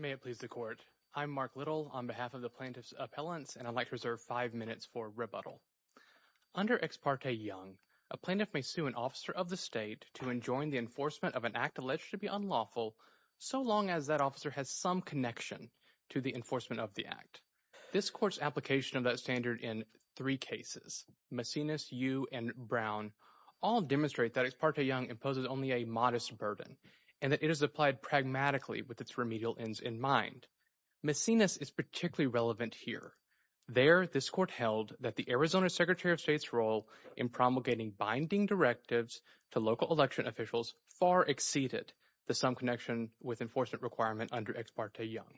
May it please the court. I'm Mark Little on behalf of the plaintiff's appellants and I'd like to reserve five minutes for rebuttal. Under Ex parte Young, a plaintiff may sue an officer of the state to enjoin the enforcement of an act alleged to be unlawful so long as that officer has some connection to the enforcement of the act. This court's application of that standard in three cases, Macinis, You, and Brown, all demonstrate that Ex parte Young imposes only a modest burden and that it is applied pragmatically with its remedial ends in mind. Macinis is particularly relevant here. There, this court held that the Arizona Secretary of State's role in promulgating binding directives to local election officials far exceeded the sum connection with enforcement requirement under Ex parte Young.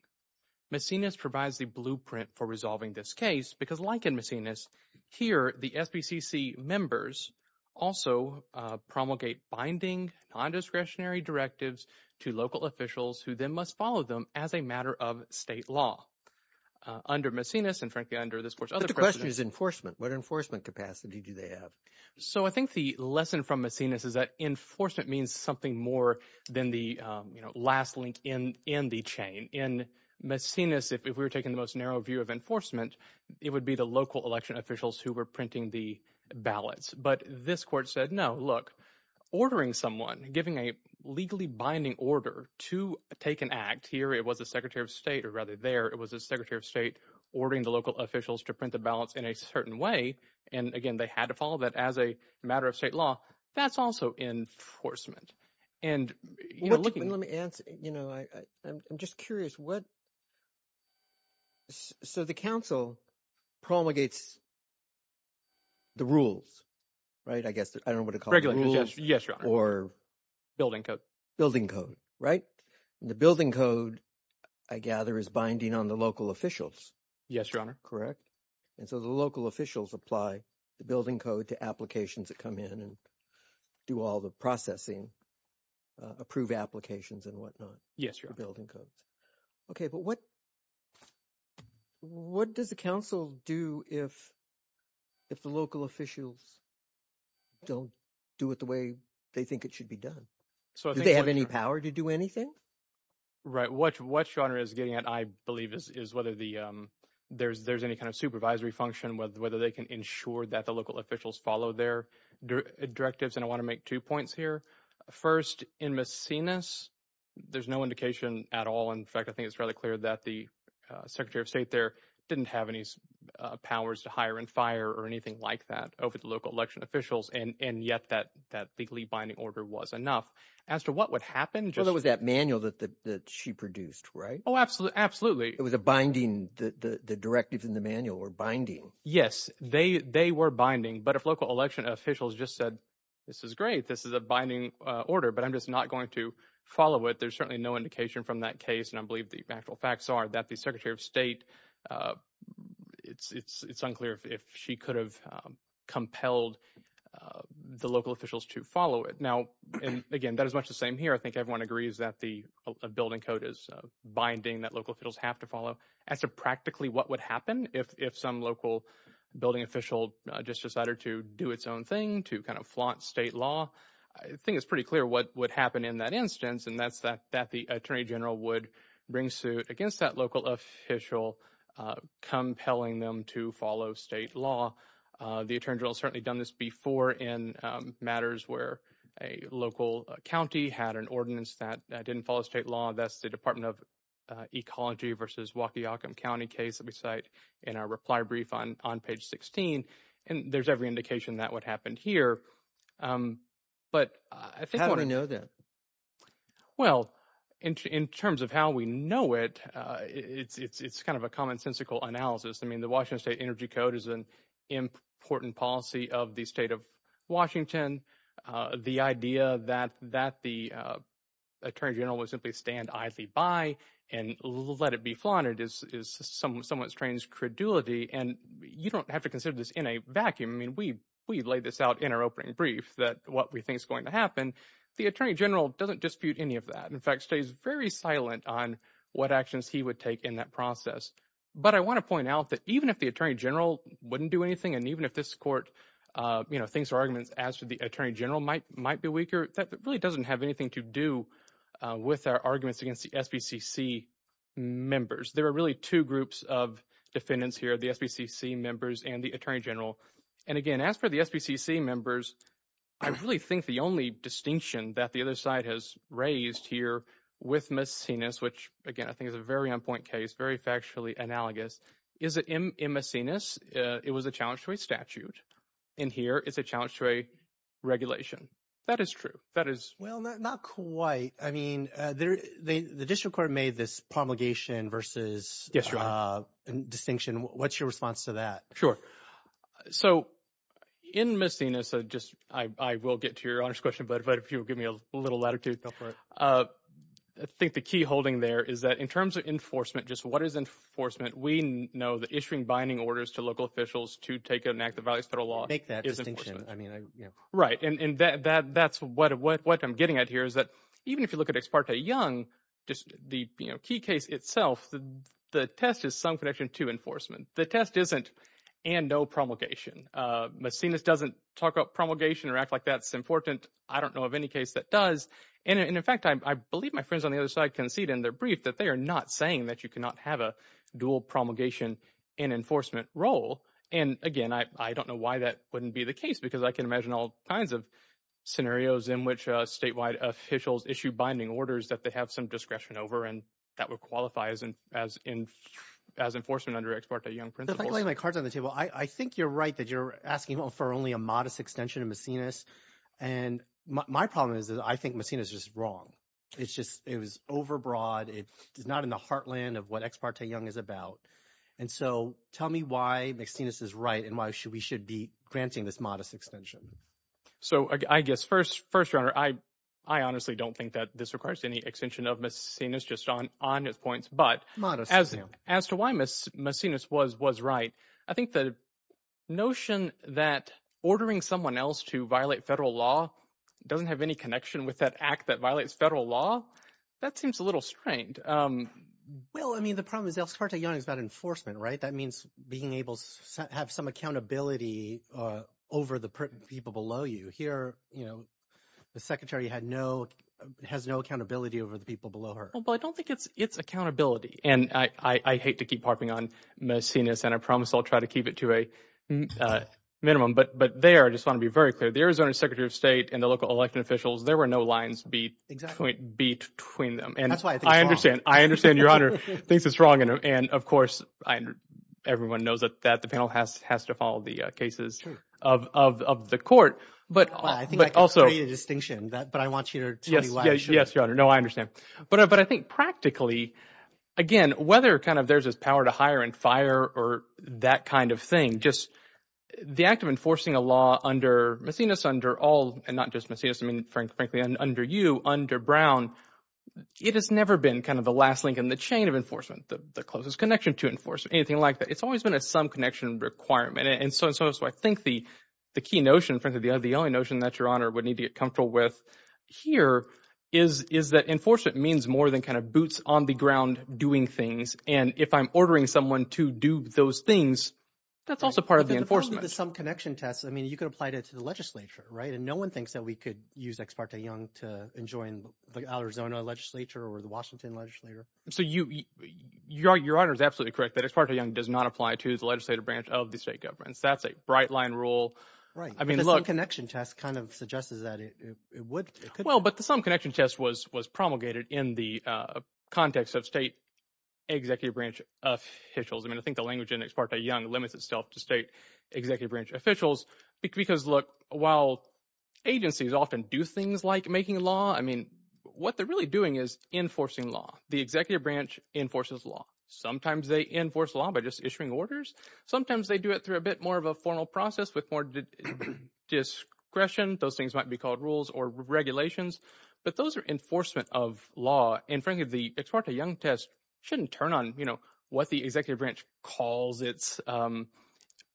Macinis provides the blueprint for resolving this case because like in Macinis, here the SBCC members also promulgate binding non-discretionary directives to local officials who then must follow them as a matter of state law. Under Macinis and frankly under this court's other question is enforcement. What enforcement capacity do they have? So I think the lesson from Macinis is that enforcement means something more than the, you know, last link in the chain. In Macinis, if we were taking the most narrow view of enforcement, it would be the local election officials who were printing the ballots. But this court said, no, look, ordering someone, giving a legally binding order to take an act, here it was the Secretary of State or rather there it was the Secretary of State ordering the local officials to print the ballots in a certain way and again, they had to follow that as a matter of state law. That's also enforcement. And let me answer, you know, I'm just curious what, so the council promulgates the rules, right? I guess I don't know what to call it. Yes, your honor. Or building code. Building code, right? The building code, I gather, is binding on the local officials. Yes, your honor. Correct. And so the local officials apply the building code to applications that come in and do all the processing, approve applications and whatnot. Yes, your honor. Building codes. Okay, but what does the council do if the local officials don't do it the way they think it should be done? Do they have any power to do anything? Right, what your honor is getting at, I believe, is whether there's any kind of supervisory function, whether they can ensure that the local officials follow their directives. And I want to make two points here. First, in Macinas, there's no indication at all. In fact, I think it's fairly clear that the Secretary of State there didn't have any powers to hire and fire or anything like that over the local election officials and yet that legally binding order was enough. As to what would happen... Well, there was that manual that she produced, right? Oh, absolutely. It was a binding, the directives in the manual were binding. Yes, they were binding. But if local election officials just said, this is great, this is a binding order, but I'm just not going to follow it, there's certainly no indication from that case. And I believe the actual facts are that the Secretary of State, it's unclear if she could have compelled the local officials to follow it. Now, again, that is much the same here. I think everyone agrees that the building code is binding that local officials have to follow. As to practically what would happen if some local building official just decided to do its own thing, to kind of flaunt state law, I think it's pretty clear what would happen in that instance and that's that the Attorney General would bring suit against that local official, compelling them to follow state law. The Attorney General certainly done this before in matters where a local county had an ordinance that didn't follow state law. That's the Department of Ecology versus Waukee-Ockham County case that we cite in our reply brief on page 16. And there's every indication that would happen here. But I think... How do we know that? Well, in terms of how we know it, it's kind of a commonsensical analysis. I mean, Washington State Energy Code is an important policy of the state of Washington. The idea that the Attorney General would simply stand idly by and let it be flaunted is somewhat strange credulity. And you don't have to consider this in a vacuum. I mean, we laid this out in our opening brief that what we think is going to happen. The Attorney General doesn't dispute any of that. In fact, stays very silent on what actions he would take in that process. But I want to point out that even if the Attorney General wouldn't do anything, and even if this court, you know, thinks our arguments as to the Attorney General might be weaker, that really doesn't have anything to do with our arguments against the SBCC members. There are really two groups of defendants here, the SBCC members and the Attorney General. And again, as for the SBCC members, I really think the only distinction that the other side has raised here with Messinas, which again, I think is a very on-point case, very factually analogous, is that in Messinas, it was a challenge to a statute. In here, it's a challenge to a regulation. That is true. That is. Well, not quite. I mean, the district court made this promulgation versus distinction. What's your response to that? Sure. So in Messinas, I will get to your honors question, but if you'll give me a little latitude. I think the key holding there is that in terms of enforcement, just what is enforcement, we know that issuing binding orders to local officials to take an act of violence federal law. Make that distinction. Right. And that's what I'm getting at here is that even if you look at Ex parte Young, just the key case itself, the test is some connection to enforcement. The test isn't and no promulgation. Messinas doesn't talk about promulgation or act like that's important. I don't know of any case that does. And in fact, I believe my friends on the other side concede in their brief that they are not saying that you cannot have a dual promulgation and enforcement role. And again, I don't know why that wouldn't be the case, because I can imagine all kinds of scenarios in which statewide officials issue binding orders that they have some discretion over and that would qualify as enforcement under Ex parte Young principles. I think you're right that you're asking for only a modest extension of Messinas. And my problem is that I think Messinas is wrong. It's just it was overbroad. It is not in the heartland of what Ex parte Young is about. And so tell me why Messinas is right and why should we should be granting this modest extension. So I guess first first runner, I I honestly don't think that this requires any extension of Messinas just on on his points. But as as to why Messinas was right, I think the notion that ordering someone else to violate federal law doesn't have any connection with that act that violates federal law. That seems a little strained. Well, I mean, the problem is Ex parte Young is about enforcement. Right. That means being able to have some accountability over the people below you here. You know, the secretary had no has no accountability over the people below her. Well, I don't think it's it's accountability. And I hate to keep harping on Messinas. And I promise I'll try to keep it to a minimum. But but they are just want to be very clear. The Arizona secretary of state and the local election officials, there were no lines between them. And that's why I understand. I understand your honor thinks it's wrong. And of course, everyone knows that that the panel has has to follow the cases of the court. But I think also a distinction that but I want you to. Yes. Yes. No, I understand. But but I think practically, again, whether kind of there's this power to hire and fire or that kind of thing, just the act of enforcing a law under Messinas, under all and not just Messinas, I mean, frankly, under you, under Brown, it has never been kind of the last link in the chain of enforcement, the closest connection to enforce anything like that. It's always been a some connection requirement. And so I think the the key notion, frankly, the only notion that your honor would need to get comfortable with here is is that enforcement means more than kind of boots on the ground doing things. And if I'm ordering someone to do those things, that's also part of the enforcement, some connection tests. I mean, you could apply it to the legislature. Right. And no one thinks that we could use Ex parte Young to enjoin the Arizona legislature or the Washington legislature. So you you are your honor is absolutely correct that it's partly young, does not apply to the legislative branch of the state governments. That's a bright line rule. Right. I mean, look, connection test kind of suggests that it would. Well, but the some connection test was was promulgated in the context of state executive branch officials. I mean, I think the language in Ex parte Young limits itself to state executive branch officials, because, look, while agencies often do things like making law, I mean, what they're really doing is enforcing law. The executive branch enforces law. Sometimes they enforce law by just issuing orders. Sometimes they do it through a bit more of a formal process with more discretion. Those things might be called rules or regulations, but those are enforcement of law. And frankly, the Ex parte Young test shouldn't turn on, you know, what the executive branch calls its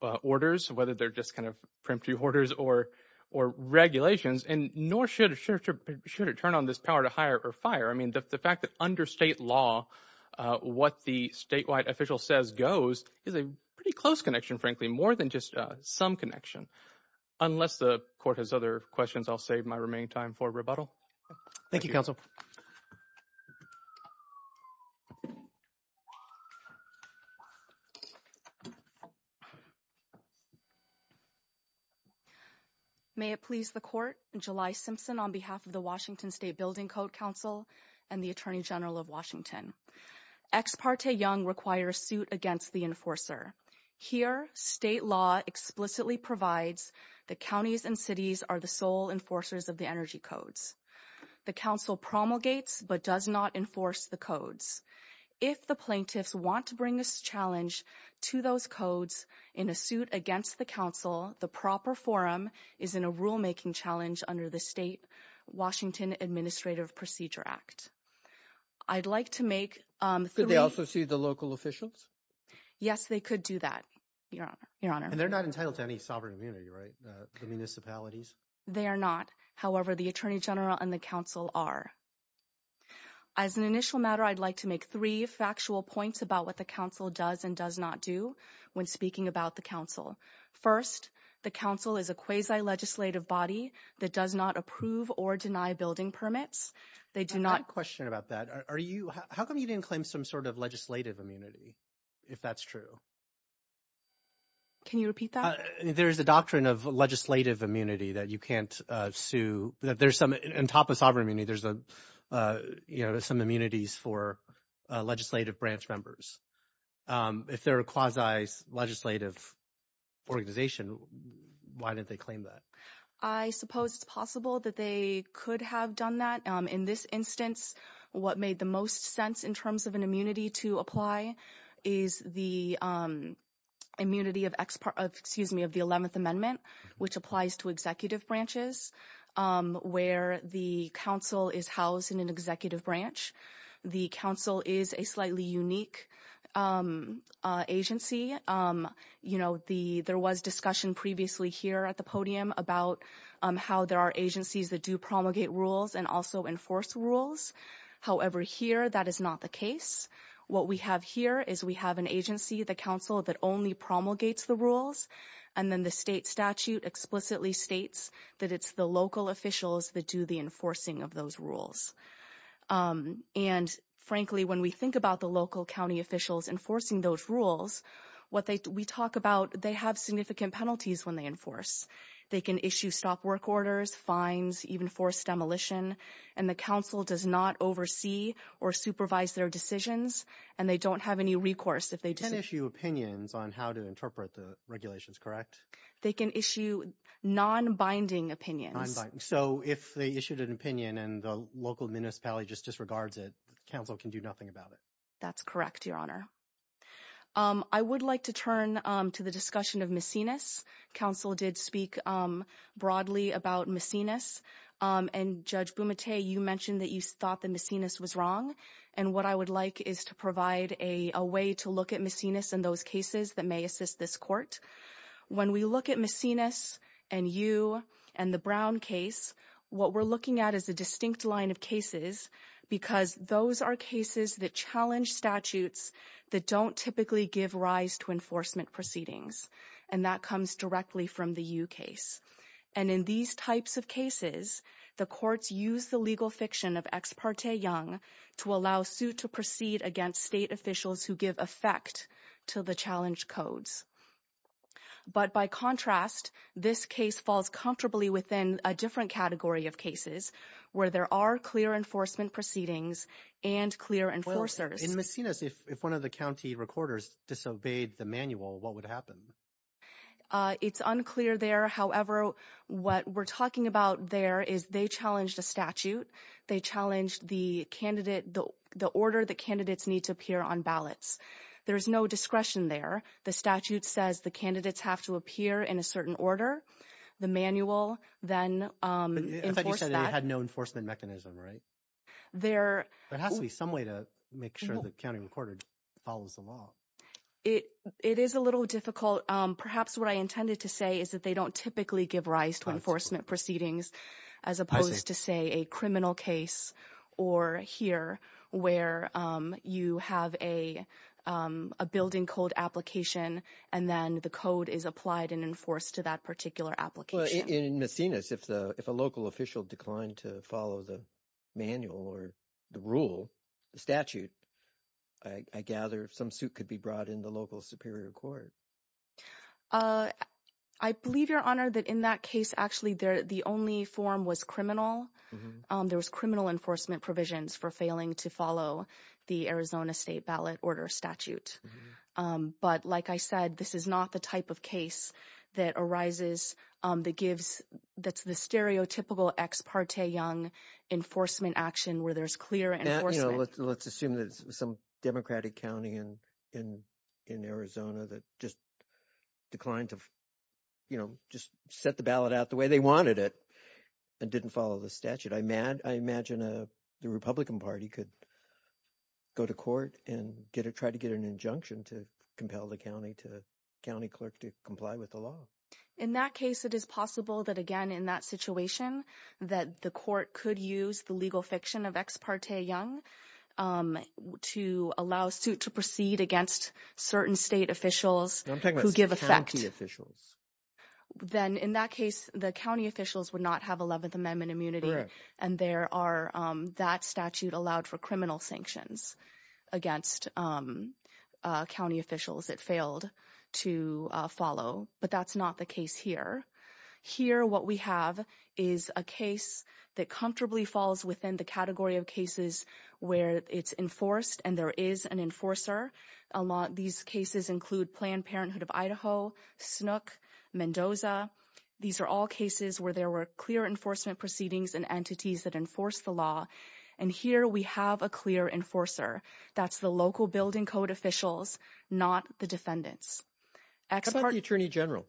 orders, whether they're just kind of preemptive orders or or regulations. And nor should it should it turn on this power to hire or fire. I mean, the fact that under state law, what the statewide official says goes is a pretty close connection, frankly, more than just some connection. Unless the court has other questions, I'll save my remaining time for rebuttal. Thank you, counsel. May it please the court. July Simpson, on behalf of the Washington State Building Code Council and the attorney general of Washington, Ex parte Young requires suit against the enforcer. Here, state law explicitly provides the counties and cities are the sole enforcers of the energy codes. The council promulgates but does not enforce the codes. If the plaintiffs want to bring this challenge to those codes in a suit against the council, the proper forum is in a I'd like to make. Could they also see the local officials? Yes, they could do that. Your honor, your honor. And they're not entitled to any sovereign immunity, right? The municipalities, they are not. However, the attorney general and the council are. As an initial matter, I'd like to make three factual points about what the council does and does not do when speaking about the council. First, the council is a quasi legislative body that does not approve or deny building permits. They do not question about that. Are you how come you didn't claim some sort of legislative immunity, if that's true? Can you repeat that? There is a doctrine of legislative immunity that you can't sue that there's some on top of sovereign immunity. There's a you know, there's some immunities for legislative branch members. If they're a quasi legislative organization, why did they claim that? I suppose it's possible that they could have done that. In this instance, what made the most sense in terms of an immunity to apply is the immunity of excuse me, of the 11th Amendment, which applies to executive branches where the council is housed in an executive branch. The council is a slightly unique agency. You know, the there was discussion previously here at the podium about how there are agencies that do promulgate rules and also enforce rules. However, here, that is not the case. What we have here is we have an agency, the council that only promulgates the rules. And then the state statute explicitly states that it's the local officials that do enforcing of those rules. And frankly, when we think about the local county officials enforcing those rules, what we talk about, they have significant penalties when they enforce. They can issue stop work orders, fines, even forced demolition. And the council does not oversee or supervise their decisions. And they don't have any recourse. They can issue opinions on how to interpret the regulations, correct? They can issue non-binding opinions. So if they issued an opinion and the local municipality just disregards it, the council can do nothing about it? That's correct, Your Honor. I would like to turn to the discussion of Macinus. Council did speak broadly about Macinus. And Judge Bumate, you mentioned that you thought the Macinus was wrong. And what I would like is to provide a way to look at Macinus and those that may assist this court. When we look at Macinus and you and the Brown case, what we're looking at is a distinct line of cases because those are cases that challenge statutes that don't typically give rise to enforcement proceedings. And that comes directly from the U case. And in these types of cases, the courts use the legal fiction of ex parte young to allow suit to state officials who give effect to the challenge codes. But by contrast, this case falls comfortably within a different category of cases where there are clear enforcement proceedings and clear enforcers. In Macinus, if one of the county recorders disobeyed the manual, what would happen? It's unclear there. However, what we're talking about there is they challenged a statute. They challenged the order that candidates need to appear on ballots. There's no discretion there. The statute says the candidates have to appear in a certain order. The manual then enforced that. It had no enforcement mechanism, right? There has to be some way to make sure the county recorder follows the law. It is a little difficult. Perhaps what I intended to say is that they don't typically give rise to proceedings as opposed to, say, a criminal case or here where you have a building code application and then the code is applied and enforced to that particular application. In Macinus, if a local official declined to follow the manual or the rule, the statute, I gather some suit could be brought in the local superior court. I believe, Your Honor, that in that case, actually, the only form was criminal. There was criminal enforcement provisions for failing to follow the Arizona state ballot order statute. But like I said, this is not the type of case that arises that gives that's the stereotypical ex parte young enforcement action where there's clear enforcement. Let's assume that some Democratic county in Arizona that just declined to, you know, just set the ballot out the way they wanted it and didn't follow the statute. I imagine the Republican Party could go to court and try to get an injunction to compel the county clerk to comply with the law. In that case, it is possible that, again, in that situation, that the court could use the legal fiction of ex parte young to allow suit to proceed against certain state officials who give effect officials. Then in that case, the county officials would not have 11th Amendment immunity. And there are that statute allowed for criminal sanctions against county officials that failed to follow. But that's not the case here. Here, what we have is a case that comfortably falls within the category of cases where it's enforced and there is an enforcer. A lot of these cases include Planned Parenthood of Idaho, Snook, Mendoza. These are all cases where there were clear enforcement proceedings and entities that enforce the law. And here we have a clear enforcer. That's the local building code officials, not the defendants. What about the attorney general?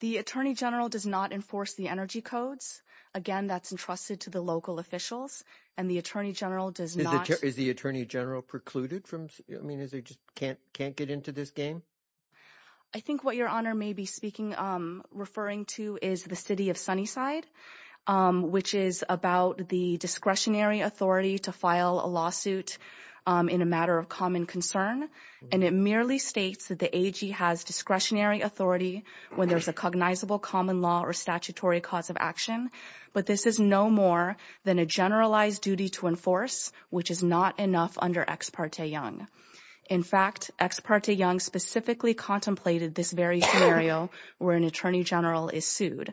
The attorney general does not enforce the energy codes. Again, that's entrusted to the local officials. And the attorney general does not. Is the attorney general precluded from, I mean, is he just can't get into this game? I think what your honor may be speaking, referring to is the city of Sunnyside, which is about the discretionary authority to file a lawsuit in a matter of common concern. And it merely states that the AG has discretionary authority when there's a cognizable common law or statutory cause of action. But this is no more than a generalized duty to enforce, which is not enough under Ex parte Young. In fact, Ex parte Young specifically contemplated this very scenario where an attorney general is sued.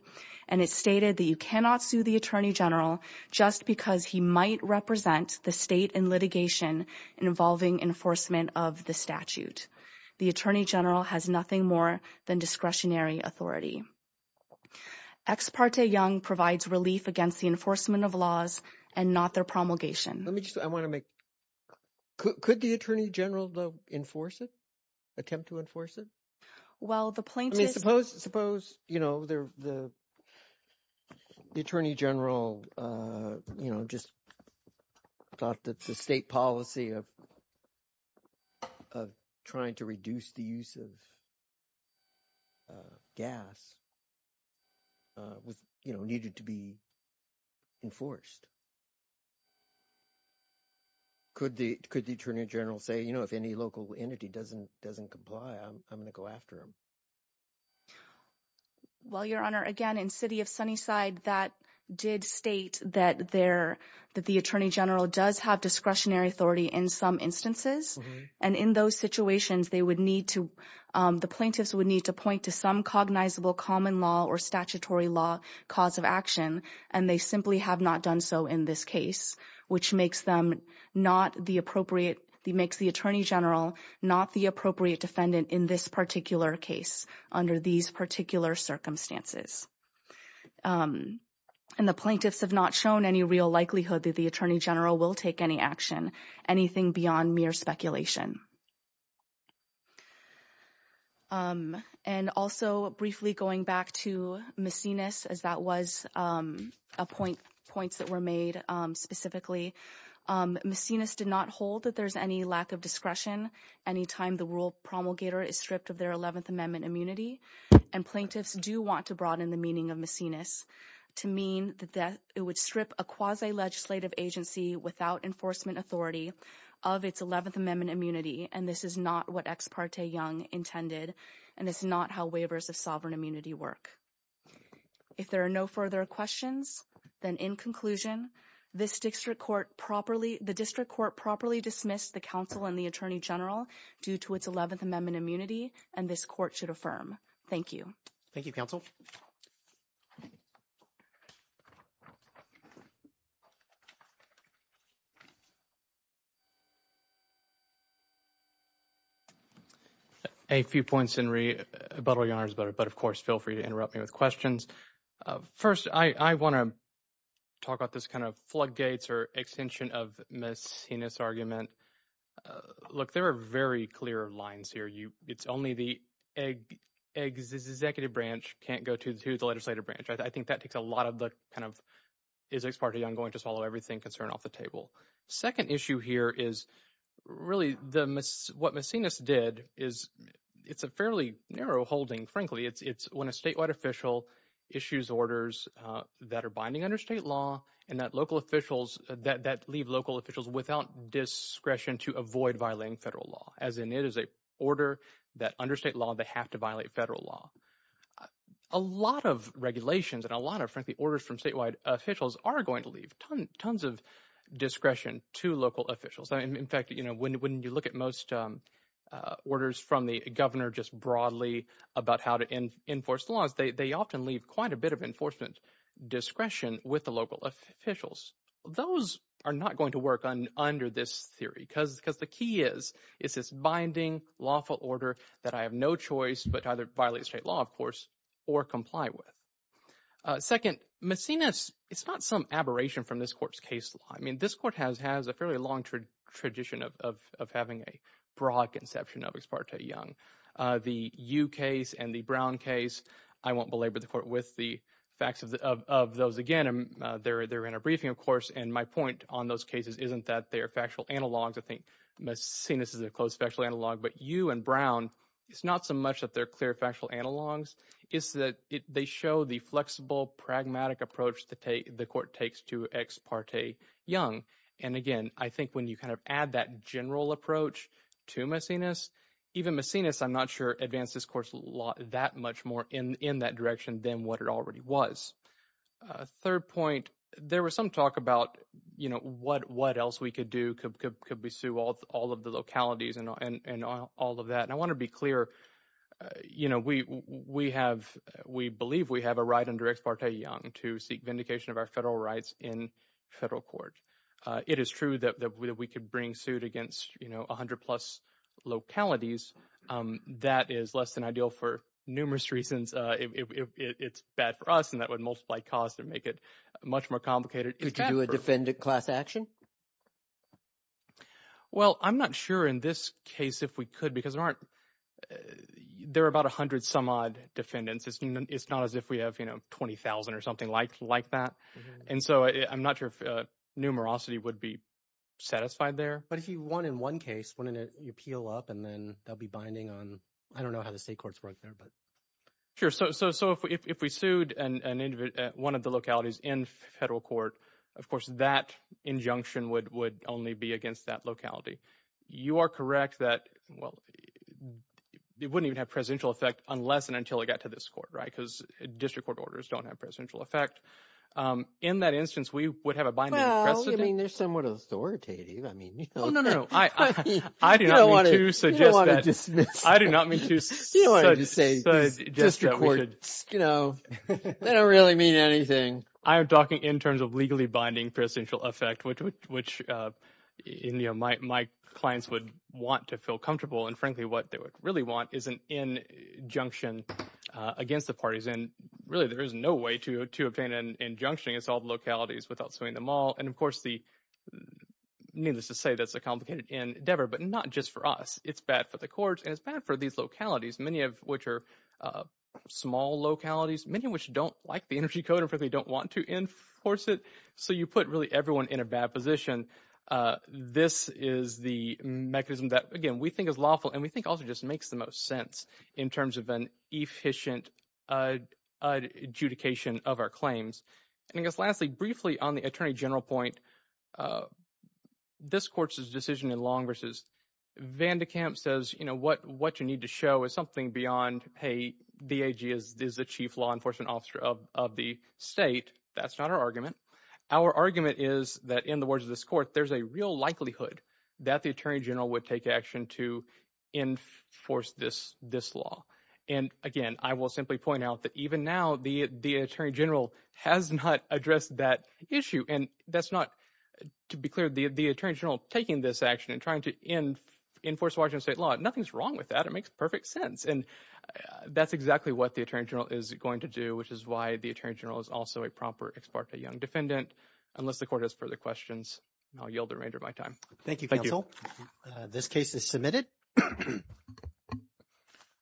And it's stated that you cannot sue the attorney general just because he might represent the state in litigation involving enforcement of the statute. The attorney general has nothing more than discretionary authority. Ex parte Young provides relief against the enforcement of laws and not their promulgation. Let me just, I want to make, could the attorney general enforce it? Attempt to enforce it? Well, the plaintiff. I mean, suppose, suppose, you know, the attorney general, you know, just thought that the state policy of, of trying to reduce the use of gas was, you know, needed to be enforced. Could the, could the attorney general say, you know, if any local entity doesn't, doesn't comply, I'm going to go after him. Well, Your Honor, again, in city of Sunnyside, that did state that there, that the attorney general does have discretionary authority in some instances. And in those situations, they would need to, the plaintiffs would need to point to some cognizable common law or statutory law cause of action. And they simply have not done so in this case, which makes them not the appropriate, the makes the attorney general, not the appropriate defendant in this particular case under these particular circumstances. And the plaintiffs have not shown any real likelihood that the attorney general will take any action, anything beyond mere speculation. And also briefly going back to Macinus, as that was a point, points that were made specifically, Macinus did not hold that there's any lack of discretion anytime the rural promulgator is stripped of their 11th amendment immunity. And plaintiffs do want to broaden the meaning of strip a quasi-legislative agency without enforcement authority of its 11th amendment immunity. And this is not what Ex parte Young intended. And it's not how waivers of sovereign immunity work. If there are no further questions, then in conclusion, this district court properly, the district court properly dismissed the counsel and the attorney general due to its 11th amendment immunity. And this court should affirm. Thank you. Thank you, counsel. A few points in rebuttal, your honors, but of course, feel free to interrupt me with questions. First, I want to talk about this kind of floodgates or extension of Macinus argument. Look, there are very clear lines here. It's only the executive branch can't go to the legislative branch. I think that takes a lot of the kind of Ex parte Young going to swallow everything concern off the table. Second issue here is really what Macinus did is it's a fairly narrow holding, frankly. It's when a statewide official issues orders that are binding under state law and that local officials that leave local officials without discretion to avoid violating federal law, as in it is a order that under state law, they have to violate federal law. A lot of regulations and a lot of frankly, orders from statewide officials are going to leave tons of discretion to local officials. In fact, when you look at most orders from the governor just broadly about how to enforce laws, they often leave quite a bit of enforcement discretion with local officials. Those are not going to work under this theory because the key is, is this binding lawful order that I have no choice but either violate state law, of course, or comply with. Second, Macinus, it's not some aberration from this court's case law. I mean, this court has a fairly long tradition of having a broad conception of Ex parte Young. The Yu case and Brown case, I won't belabor the court with the facts of those again. They're in a briefing, of course, and my point on those cases isn't that they're factual analogs. I think Macinus is a close factual analog, but Yu and Brown, it's not so much that they're clear factual analogs, it's that they show the flexible, pragmatic approach the court takes to Ex parte Young. And again, I think when you kind of add that general approach to Macinus, even Macinus, I'm not sure, advanced this course that much more in that direction than what it already was. Third point, there was some talk about, you know, what else we could do, could we sue all of the localities and all of that. And I want to be clear, you know, we have, we believe we have a right under Ex parte Young to seek vindication of our federal rights in federal court. It is true that we could bring suit against, you know, 100 plus localities. That is less than ideal for numerous reasons. It's bad for us and that would multiply costs and make it much more complicated. Could you do a defendant class action? Well, I'm not sure in this case if we could, because there aren't, there are about 100 some odd defendants. It's not as if we have, you know, 20,000 or something like that. And so I'm not sure if numerosity would be satisfied there. But if you won in one case, wouldn't it, you peel up and then they'll be binding on, I don't know how the state courts work there, but. Sure. So if we sued one of the localities in federal court, of course, that injunction would only be against that locality. You are correct that, well, it wouldn't even have presidential effect unless and until it got to this court, right? Because district court orders don't have a presidential effect. In that instance, we would have a binding precedent. Well, I mean, they're somewhat authoritative. I mean, you know. Oh, no, no, no. I do not mean to suggest that. You don't want to dismiss. I do not mean to suggest that we should. You don't want to say district courts, you know, they don't really mean anything. I am talking in terms of legally binding presidential effect, which, you know, my clients would want to feel comfortable. And frankly, what they would really want is an injunction against the parties. And really, there is no way to obtain an injunction against all the localities without suing them all. And of course, needless to say, that's a complicated endeavor, but not just for us. It's bad for the courts, and it's bad for these localities, many of which are small localities, many of which don't like the energy code, and frankly, don't want to enforce it. So you put really everyone in a bad position. This is the mechanism that, again, we think is and we think also just makes the most sense in terms of an efficient adjudication of our claims. And I guess lastly, briefly on the attorney general point, this court's decision in long versus Van de Kamp says, you know, what you need to show is something beyond, hey, the AG is the chief law enforcement officer of the state. That's not our argument. Our argument is that in the words of this court, there's a real likelihood that the attorney general would take action to enforce this law. And again, I will simply point out that even now, the attorney general has not addressed that issue. And that's not, to be clear, the attorney general taking this action and trying to enforce Washington state law, nothing's wrong with that. It makes perfect sense. And that's exactly what the attorney general is going to do, which is why the attorney general is also a proper ex parte young defendant. Unless the court has further questions, I'll yield the remainder of my time. Thank you, counsel. This case is submitted.